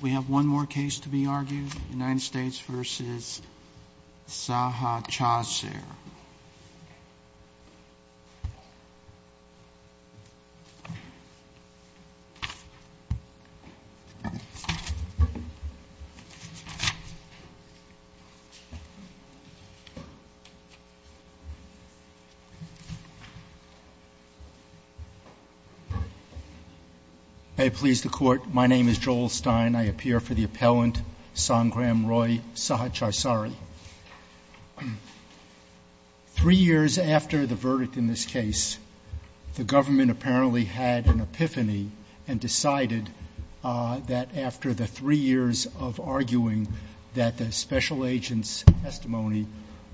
We have one more case to be argued. U.S. v. Saha Chasser. I appease the court. My name is Joel Stein. I appear for the appellant, Sangram Roy Sahacharsari. Three years after the verdict in this case, the government apparently had an epiphany and decided that after the three years of arguing that the special agent's testimony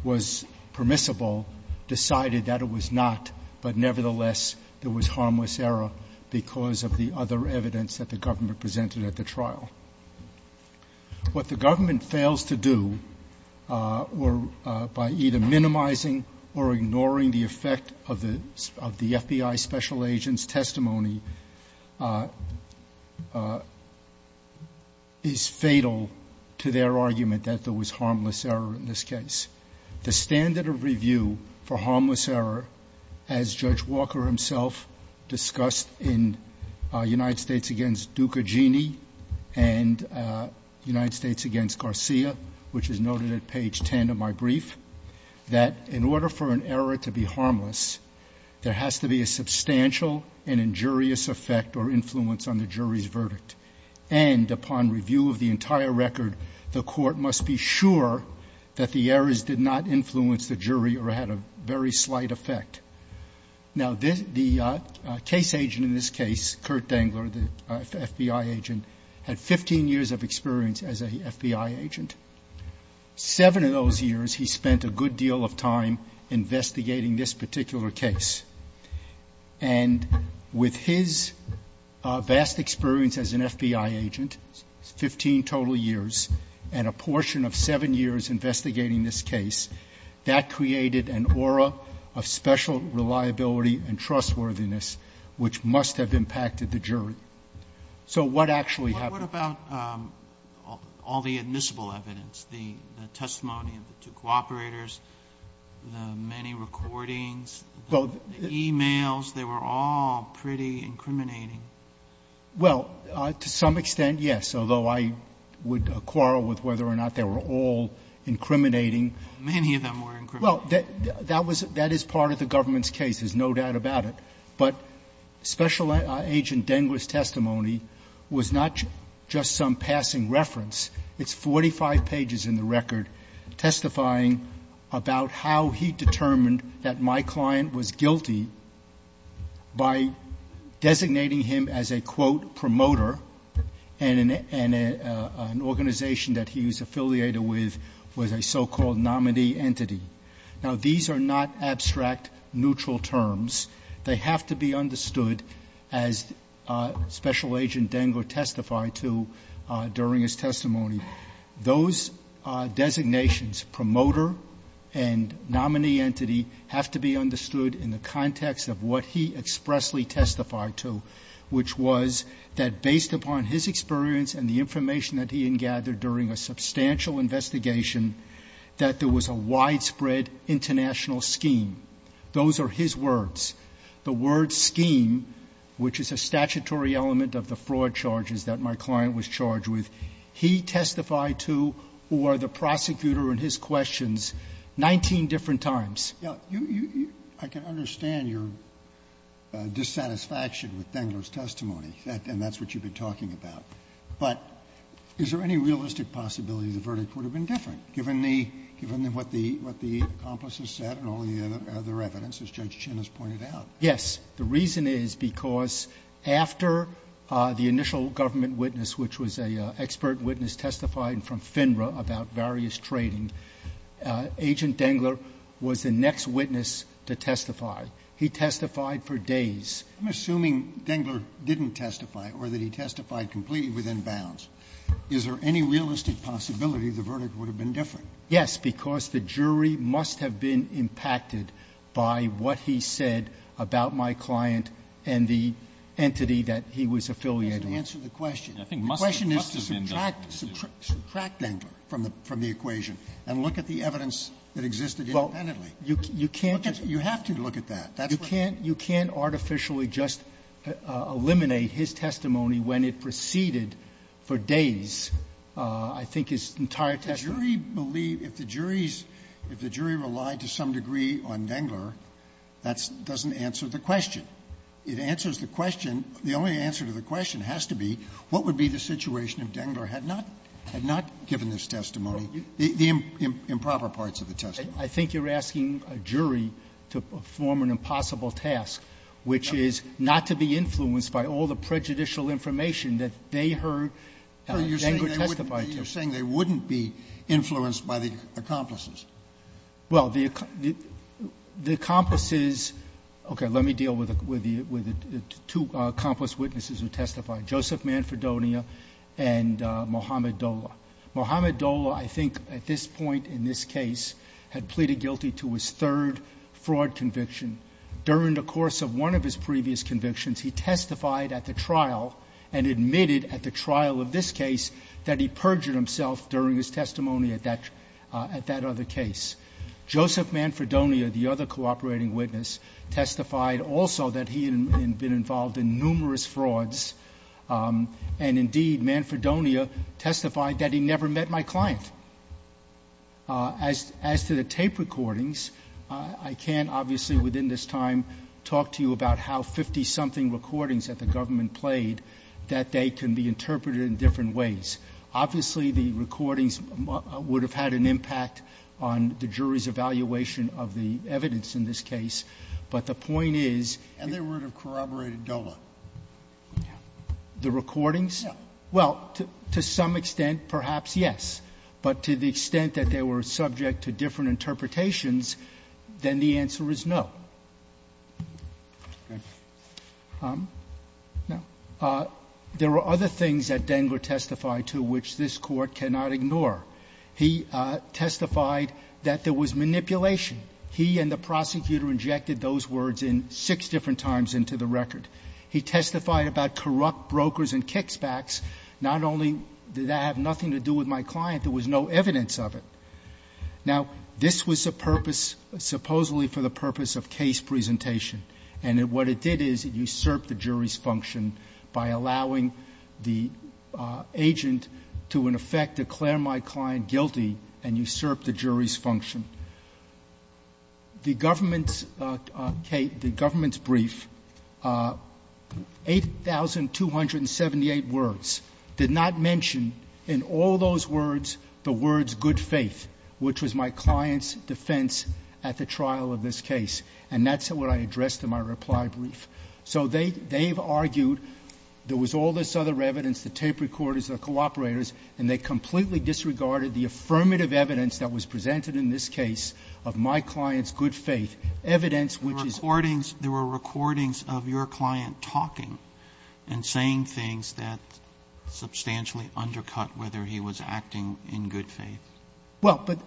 was permissible, decided that it was not, but nevertheless there was harmless error because of the other evidence that the government presented at the trial. What the government fails to do by either minimizing or ignoring the effect of the FBI special agent's testimony is fatal to their argument that there was harmless error in this case. The standard of review for harmless error, as Judge Walker himself discussed in United States v. Ducagini and United States v. Garcia, which is noted at page 10 of my brief, that in order for an error to be harmless, there has to be a substantial and injurious effect or influence on the jury's verdict. And upon review of the entire record, the court must be sure that the errors did not influence the jury or had a very slight effect. Now, the case agent in this case, Kurt Dangler, the FBI agent, had 15 years of experience as a FBI agent. Seven of those years he spent a good deal of time investigating this particular case. And with his vast experience as an FBI agent, 15 total years, and a portion of seven years investigating this case, that created an aura of special reliability and trustworthiness which must have impacted the jury. So what actually happened? Roberts. What about all the admissible evidence, the testimony of the two cooperators, the many recordings, the e-mails? They were all pretty incriminating. Well, to some extent, yes, although I would quarrel with whether or not they were all incriminating. Many of them were incriminating. Well, that is part of the government's case. There's no doubt about it. But Special Agent Dangler's testimony was not just some passing reference. It's 45 pages in the record testifying about how he determined that my client was a quote, promoter, and an organization that he was affiliated with was a so-called nominee entity. Now, these are not abstract, neutral terms. They have to be understood as Special Agent Dangler testified to during his testimony. Those designations, promoter and nominee entity, have to be understood in the context of what he expressly testified to, which was that based upon his experience and the information that he had gathered during a substantial investigation, that there was a widespread international scheme. Those are his words. The word scheme, which is a statutory element of the fraud charges that my client was charged with, he testified to or the prosecutor in his questions 19 different times. Roberts. I can understand your dissatisfaction with Dangler's testimony, and that's what you've been talking about. But is there any realistic possibility the verdict would have been different, given what the accomplice has said and all the other evidence, as Judge Chin has pointed out? Yes. The reason is because after the initial government witness, which was an expert witness, testified from FINRA about various trading, Agent Dangler was the next witness to testify. He testified for days. I'm assuming Dangler didn't testify or that he testified completely within bounds. Is there any realistic possibility the verdict would have been different? Yes. Because the jury must have been impacted by what he said about my client and the entity that he was affiliated with. That doesn't answer the question. The question is to subtract Dangler from the equation and look at the evidence that existed independently. Well, you can't. You have to look at that. You can't artificially just eliminate his testimony when it preceded for days, I think, his entire testimony. The jury believed the jury's relied to some degree on Dangler. That doesn't answer the question. It answers the question. The only answer to the question has to be what would be the situation if Dangler had not given this testimony, the improper parts of the testimony. I think you're asking a jury to perform an impossible task, which is not to be influenced by all the prejudicial information that they heard Dangler testify to. You're saying they wouldn't be influenced by the accomplices. Well, the accomplices — okay, let me deal with the two accomplice witnesses who testified, Joseph Manfredonia and Mohamed Dola. Mohamed Dola, I think, at this point in this case, had pleaded guilty to his third fraud conviction. During the course of one of his previous convictions, he testified at the trial and admitted at the trial of this case that he perjured himself during his testimony at that other case. Joseph Manfredonia, the other cooperating witness, testified also that he had been involved in numerous frauds. And indeed, Manfredonia testified that he never met my client. As to the tape recordings, I can't, obviously, within this time, talk to you about how 50-something recordings that the government played, that they can be interpreted in different ways. Obviously, the recordings would have had an impact on the jury's evaluation of the evidence in this case. But the point is — And they would have corroborated Dola. The recordings? Yeah. Well, to some extent, perhaps, yes. But to the extent that they were subject to different interpretations, then the answer is no. Okay. Now, there were other things that Dengler testified to which this Court cannot ignore. He testified that there was manipulation. He and the prosecutor injected those words in six different times into the record. He testified about corrupt brokers and kickbacks. Not only did that have nothing to do with my client, there was no evidence of it. Now, this was a purpose, supposedly for the purpose of case presentation. And what it did is it usurped the jury's function by allowing the agent to, in effect, declare my client guilty and usurp the jury's function. The government's brief, 8,278 words, did not mention in all those words the words good faith, which was my client's defense at the trial of this case. And that's what I addressed in my reply brief. So they've argued there was all this other evidence, the tape recorders, the cooperators, and they completely disregarded the affirmative evidence that was presented in this case of my client's good faith, evidence which is ---- The recordings, there were recordings of your client talking and saying things that substantially undercut whether he was acting in good faith. Well, but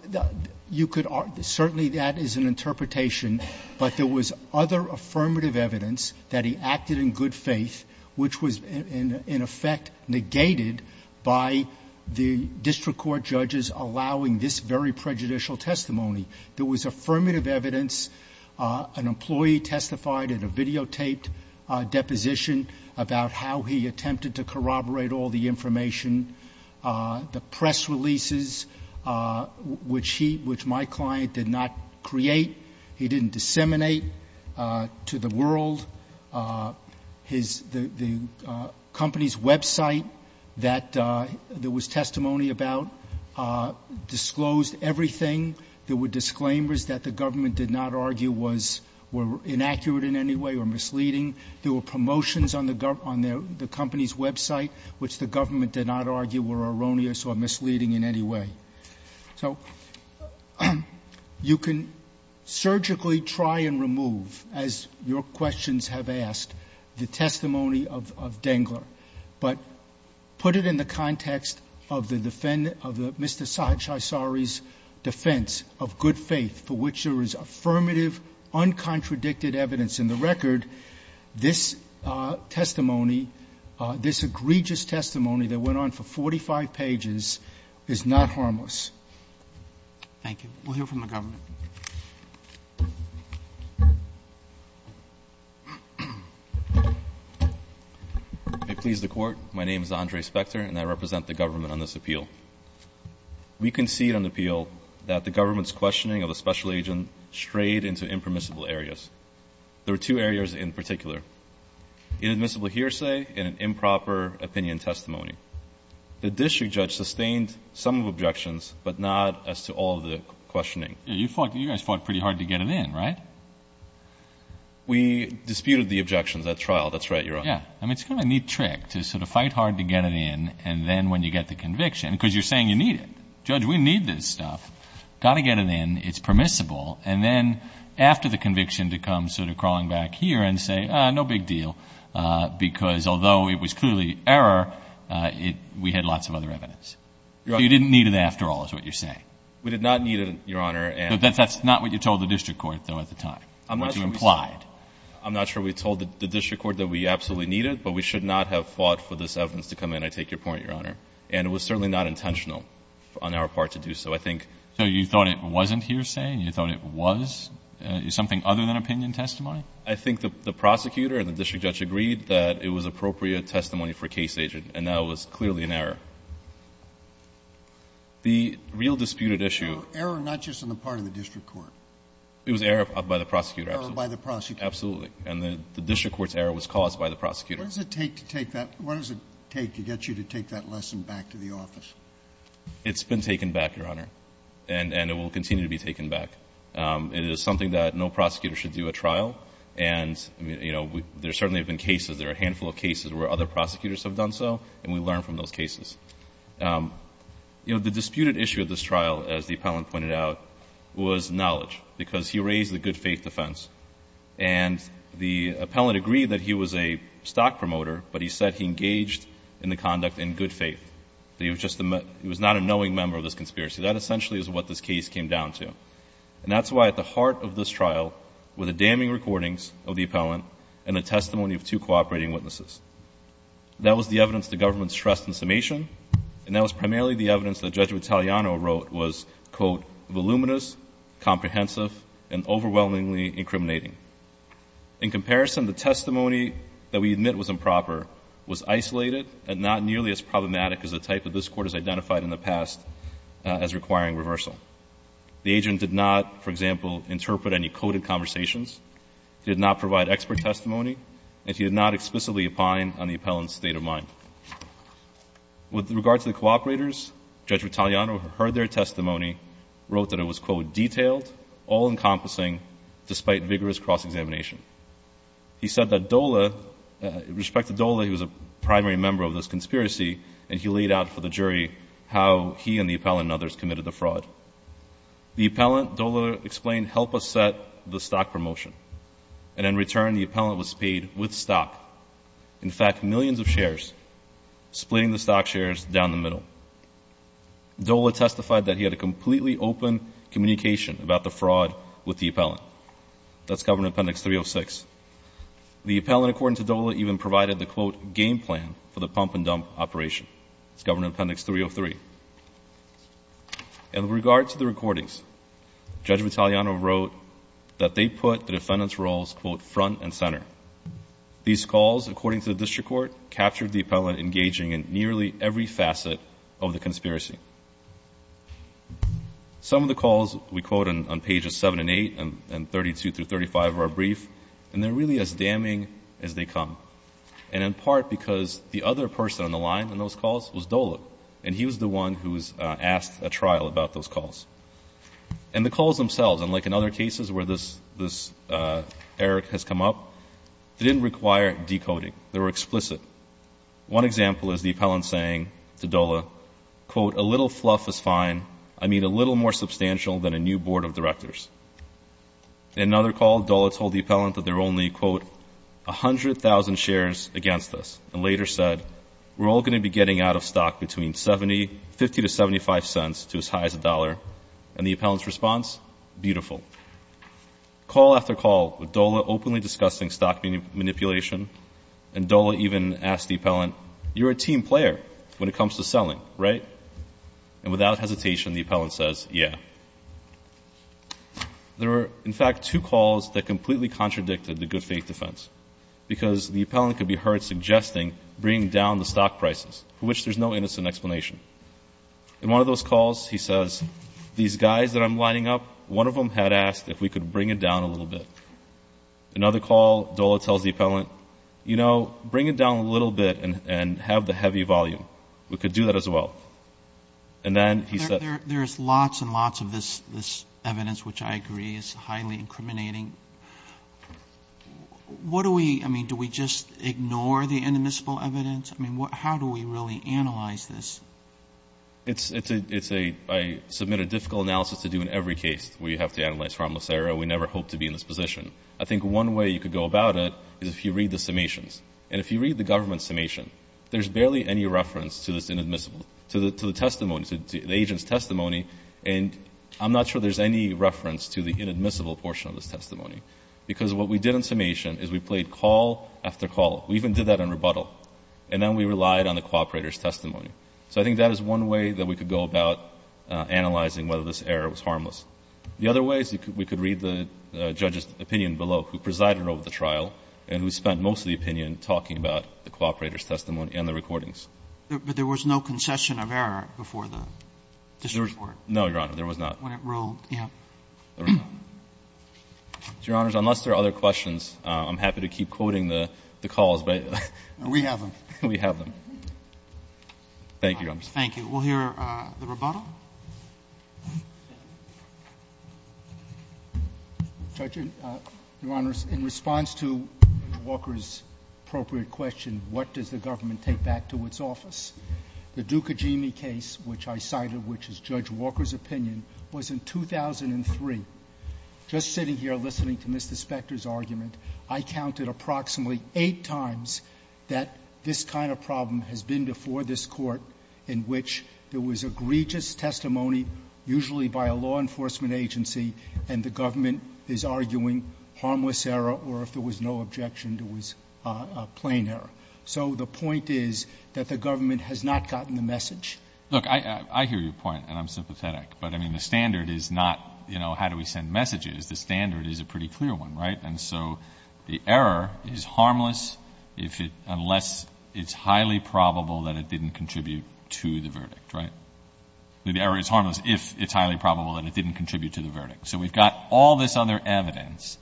you could argue, certainly that is an interpretation. But there was other affirmative evidence that he acted in good faith, which was, in effect, negated by the district court judges allowing this very prejudicial testimony. There was affirmative evidence. An employee testified in a videotaped deposition about how he attempted to corroborate all the information. The press releases, which he ---- which my client did not create, he didn't disseminate to the world. His ---- the company's website that there was testimony about disclosed everything. There were disclaimers that the government did not argue was ---- were inaccurate in any way or misleading. There were promotions on the company's website, which the government did not argue were erroneous or misleading in any way. So you can surgically try and remove, as your questions have asked, the testimony of Dangler, but put it in the context of the defendant, of Mr. Sahaysari's defense of good faith, for which there is affirmative, uncontradicted evidence in the record, this testimony, this egregious testimony that went on for almost ---- thank you. We'll hear from the government. ANDRE SPECTER I please the Court. My name is Andre Specter, and I represent the government on this appeal. We concede on the appeal that the government's questioning of a special agent strayed into impermissible areas. There were two areas in particular, inadmissible hearsay and an improper opinion testimony. The district judge sustained some of the objections, but not as to all the questioning. JUSTICE ALITO You fought, you guys fought pretty hard to get it in, right? ANDRE SPECTER We disputed the objections at trial. That's right, Your Honor. JUSTICE ALITO Yeah. I mean, it's kind of a neat trick to sort of fight hard to get it in, and then when you get the conviction, because you're saying you need it. Judge, we need this stuff. Got to get it in. It's permissible. And then after the conviction to come sort of crawling back here and say, no big deal, because although it was clearly error, we had lots of other evidence. So you didn't need it after all is what you're saying. ANDRE SPECTER We did not need it, Your Honor. JUSTICE ALITO But that's not what you told the district court, though, at the time. What you implied. ANDRE SPECTER I'm not sure we told the district court that we absolutely need it, but we should not have fought for this evidence to come in. I take your point, Your Honor. And it was certainly not intentional on our part to do so. I think — JUSTICE ALITO So you thought it wasn't hearsay, and you thought it was something other than opinion testimony? ANDRE SPECTER I think the prosecutor and the district judge agreed that it was appropriate testimony for a case agent. And that was clearly an error. The real disputed issue — JUSTICE SCALIA Error not just on the part of the district court. ANDRE SPECTER It was error by the prosecutor. JUSTICE SCALIA Error by the prosecutor. ANDRE SPECTER Absolutely. And the district court's error was caused by the prosecutor. JUSTICE SCALIA What does it take to take that — what does it take to get you to take that lesson back to the office? ANDRE SPECTER It's been taken back, Your Honor. And it will continue to be taken back. It is something that no prosecutor should do at trial. And, you know, there certainly have been cases — there are a handful of cases where other prosecutors have done so, and we learn from those cases. You know, the disputed issue at this trial, as the appellant pointed out, was knowledge, because he raised the good faith defense. And the appellant agreed that he was a stock promoter, but he said he engaged in the conduct in good faith. That he was just — he was not a knowing member of this conspiracy. That essentially is what this case came down to. And that's why at the heart of this trial were the damning recordings of the appellant and the testimony of two cooperating witnesses. That was the evidence the government stressed in summation, and that was primarily the evidence that Judge Vitaliano wrote was, quote, voluminous, comprehensive, and overwhelmingly incriminating. In comparison, the testimony that we admit was improper was isolated and not nearly as problematic as the type that this Court has identified in the past as requiring reversal. The agent did not, for example, interpret any coded conversations, did not provide expert testimony, and he did not explicitly opine on the appellant's state of mind. With regard to the cooperators, Judge Vitaliano heard their testimony, wrote that it was, quote, detailed, all-encompassing, despite vigorous cross-examination. He said that Dola — respect to Dola, he was a primary member of this conspiracy, and he laid out for the jury how he and the appellant and others committed the fraud. The appellant, Dola explained, helped us set the stock promotion. And in return, the appellant was paid with stock, in fact, millions of shares, splitting the stock shares down the middle. Dola testified that he had a completely open communication about the fraud with the appellant. That's covered in Appendix 306. The appellant, according to Dola, even provided the, quote, game plan for the pump-and-dump operation. It's covered in Appendix 303. And with regard to the recordings, Judge Vitaliano wrote that they put the defendant's roles, quote, front and center. These calls, according to the district court, captured the appellant engaging in nearly every facet of the conspiracy. Some of the calls we quote on pages 7 and 8 and 32 through 35 of our brief, and they're really as damning as they come, and in part because the other person on the line in those calls was Dola. And he was the one who asked a trial about those calls. And the calls themselves, and like in other cases where this error has come up, they didn't require decoding. They were explicit. One example is the appellant saying to Dola, quote, a little fluff is fine. I mean, a little more substantial than a new board of directors. In another call, Dola told the appellant that there were only, quote, 100,000 shares against us, and later said, we're all going to be getting out of stock between 70, 50 to 75 cents to as high as a dollar. And the appellant's response, beautiful. Call after call with Dola openly discussing stock manipulation, and Dola even asked the appellant, you're a team player when it comes to selling, right? And without hesitation, the appellant says, yeah. There were, in fact, two calls that completely contradicted the good faith defense, because the appellant could be heard suggesting bringing down the stock prices, for which there's no innocent explanation. In one of those calls, he says, these guys that I'm lining up, one of them had asked if we could bring it down a little bit. Another call, Dola tells the appellant, you know, bring it down a little bit and have the heavy volume. We could do that as well. And then he said — There's lots and lots of this evidence, which I agree is highly incriminating. What do we — I mean, do we just ignore the inadmissible evidence? I mean, how do we really analyze this? It's a — I submit a difficult analysis to do in every case where you have to analyze harmless error. We never hope to be in this position. I think one way you could go about it is if you read the summations. And if you read the government's summation, there's barely any reference to this inadmissible — to the testimony, to the agent's testimony. And I'm not sure there's any reference to the inadmissible portion of this testimony. Because what we did in summation is we played call after call. We even did that in rebuttal. And then we relied on the cooperator's testimony. So I think that is one way that we could go about analyzing whether this error was harmless. The other way is we could read the judge's opinion below, who presided over the trial and who spent most of the opinion talking about the cooperator's testimony and the recordings. But there was no concession of error before the district court? No, Your Honor. There was not. When it rolled, yeah. Your Honors, unless there are other questions, I'm happy to keep quoting the calls. But — We have them. We have them. Thank you, Your Honor. Thank you. We'll hear the rebuttal. Judge, Your Honors, in response to Judge Walker's appropriate question, what does the government take back to its office? The Dukajimi case, which I cited, which is Judge Walker's opinion, was in 2003. Just sitting here listening to Mr. Spector's argument, I counted approximately eight times that this kind of problem has been before this Court, in which there was egregious testimony, usually by a law enforcement agency, and the government is arguing harmless error, or if there was no objection, there was plain error. So the point is that the government has not gotten the message. Look, I hear your point, and I'm sympathetic. But, I mean, the standard is not, you know, how do we send messages? The standard is a pretty clear one, right? And so the error is harmless if it — unless it's highly probable that it didn't contribute to the verdict, right? The error is harmless if it's highly probable that it didn't contribute to the verdict. So we've got all this other evidence.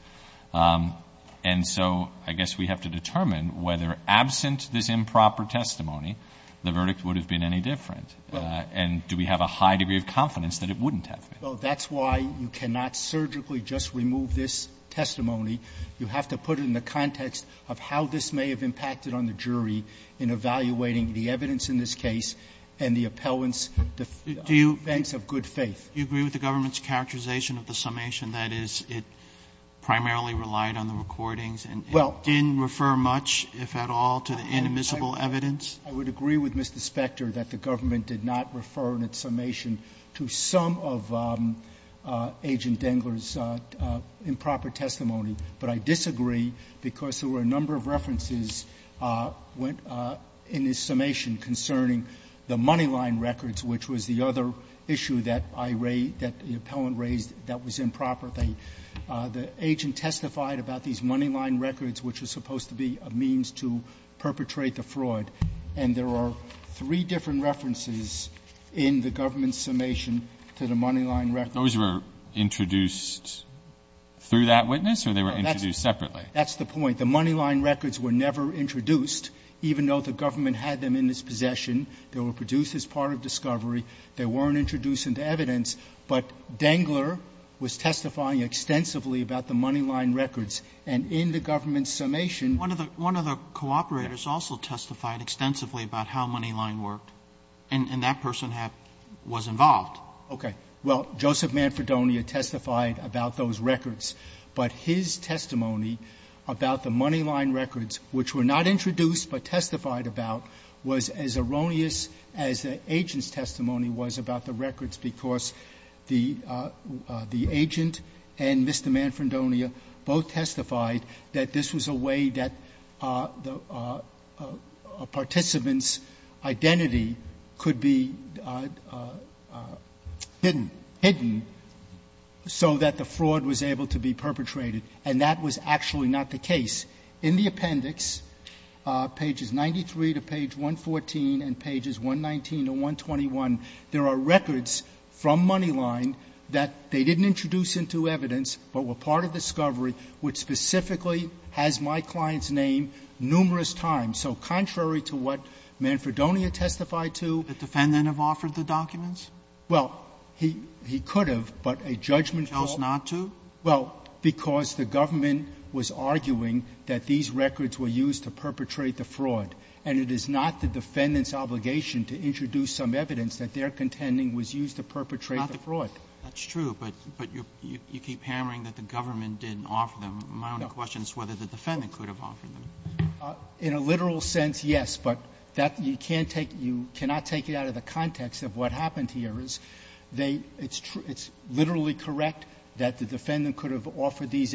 And so I guess we have to determine whether, absent this improper testimony, the verdict would have been any different. And do we have a high degree of confidence that it wouldn't have been? Well, that's why you cannot surgically just remove this testimony. You have to put it in the context of how this may have impacted on the jury in evaluating the evidence in this case and the appellant's defense of good faith. Do you agree with the government's characterization of the summation, that is, it primarily relied on the recordings and didn't refer much, if at all, to the inadmissible evidence? I would agree with Mr. Spector that the government did not refer in its summation to some of Agent Dengler's improper testimony. But I disagree because there were a number of references in his summation concerning the Moneyline records, which was the other issue that I raised, that the appellant raised, that was improper. The agent testified about these Moneyline records, which are supposed to be a means to perpetrate the fraud. And there are three different references in the government's summation to the Moneyline records. Those were introduced through that witness or they were introduced separately? That's the point. The Moneyline records were never introduced, even though the government had them in its possession. They were produced as part of discovery. They weren't introduced into evidence. But Dengler was testifying extensively about the Moneyline records. And in the government's summation ---- One of the cooperators also testified extensively about how Moneyline worked. And that person was involved. Okay. Well, Joseph Manfredonia testified about those records. But his testimony about the Moneyline records, which were not introduced but testified about, was as erroneous as the agent's testimony was about the records, because the agent and Mr. Manfredonia both testified that this was a way that the participant's identity could be hidden, hidden, so that the fraud was able to be perpetrated. And that was actually not the case. In the appendix, pages 93 to page 114 and pages 119 to 121, there are records from Moneyline that they didn't introduce into evidence but were part of discovery, which specifically has my client's name numerous times. So contrary to what Manfredonia testified to ---- The defendant have offered the documents? Well, he could have, but a judgment ---- Chose not to? Well, because the government was arguing that these records were used to perpetrate the fraud, and it is not the defendant's obligation to introduce some evidence that their contending was used to perpetrate the fraud. That's true, but you keep hammering that the government didn't offer them. My only question is whether the defendant could have offered them. In a literal sense, yes. But that you can't take you cannot take it out of the context of what happened here is they it's true it's literally correct that the defendant could have offered these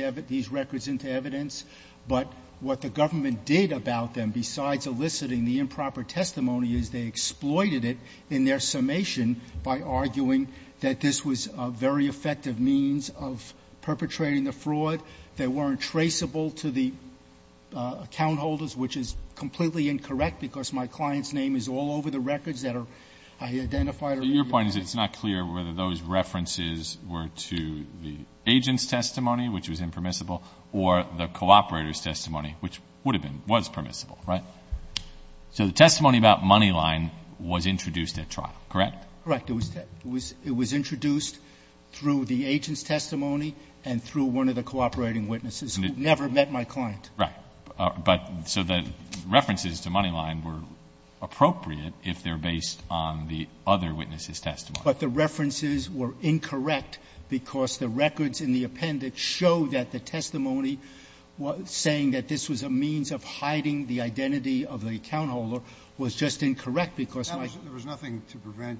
records into evidence, but what the government did about them besides eliciting the improper testimony is they exploited it in their summation by arguing that this was a very effective means of perpetrating the fraud that weren't traceable to the account holders, which is completely incorrect because my client's name is all over the records that are identified. Your point is it's not clear whether those references were to the agent's testimony, which was impermissible, or the cooperator's testimony, which would have been, was permissible, right? So the testimony about Moneyline was introduced at trial, correct? Correct. It was introduced through the agent's testimony and through one of the cooperating witnesses who never met my client. Right. But so the references to Moneyline were appropriate if they're based on the other witnesses' testimony. But the references were incorrect because the records in the appendix show that the testimony saying that this was a means of hiding the identity of the account holder was just incorrect because my client's name was not there. There was nothing to prevent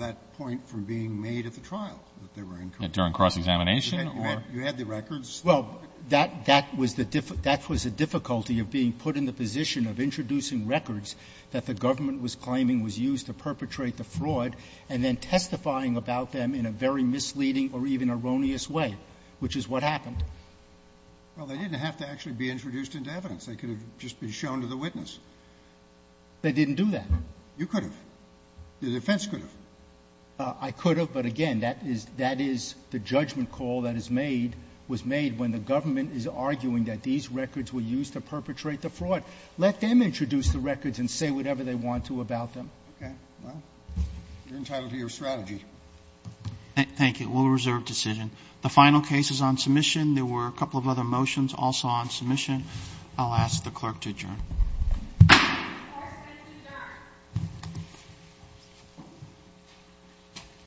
that point from being made at the trial, that they were incorrect. During cross-examination or? You had the records. Well, that was the difficulty of being put in the position of introducing records that the government was claiming was used to perpetrate the fraud and then testifying about them in a very misleading or even erroneous way, which is what happened. Well, they didn't have to actually be introduced into evidence. They could have just been shown to the witness. They didn't do that. You could have. The defense could have. When the government is arguing that these records were used to perpetrate the fraud, let them introduce the records and say whatever they want to about them. Okay. Well, you're entitled to your strategy. Thank you. We'll reserve decision. The final case is on submission. There were a couple of other motions also on submission. I'll ask the clerk to adjourn. Clerk to adjourn.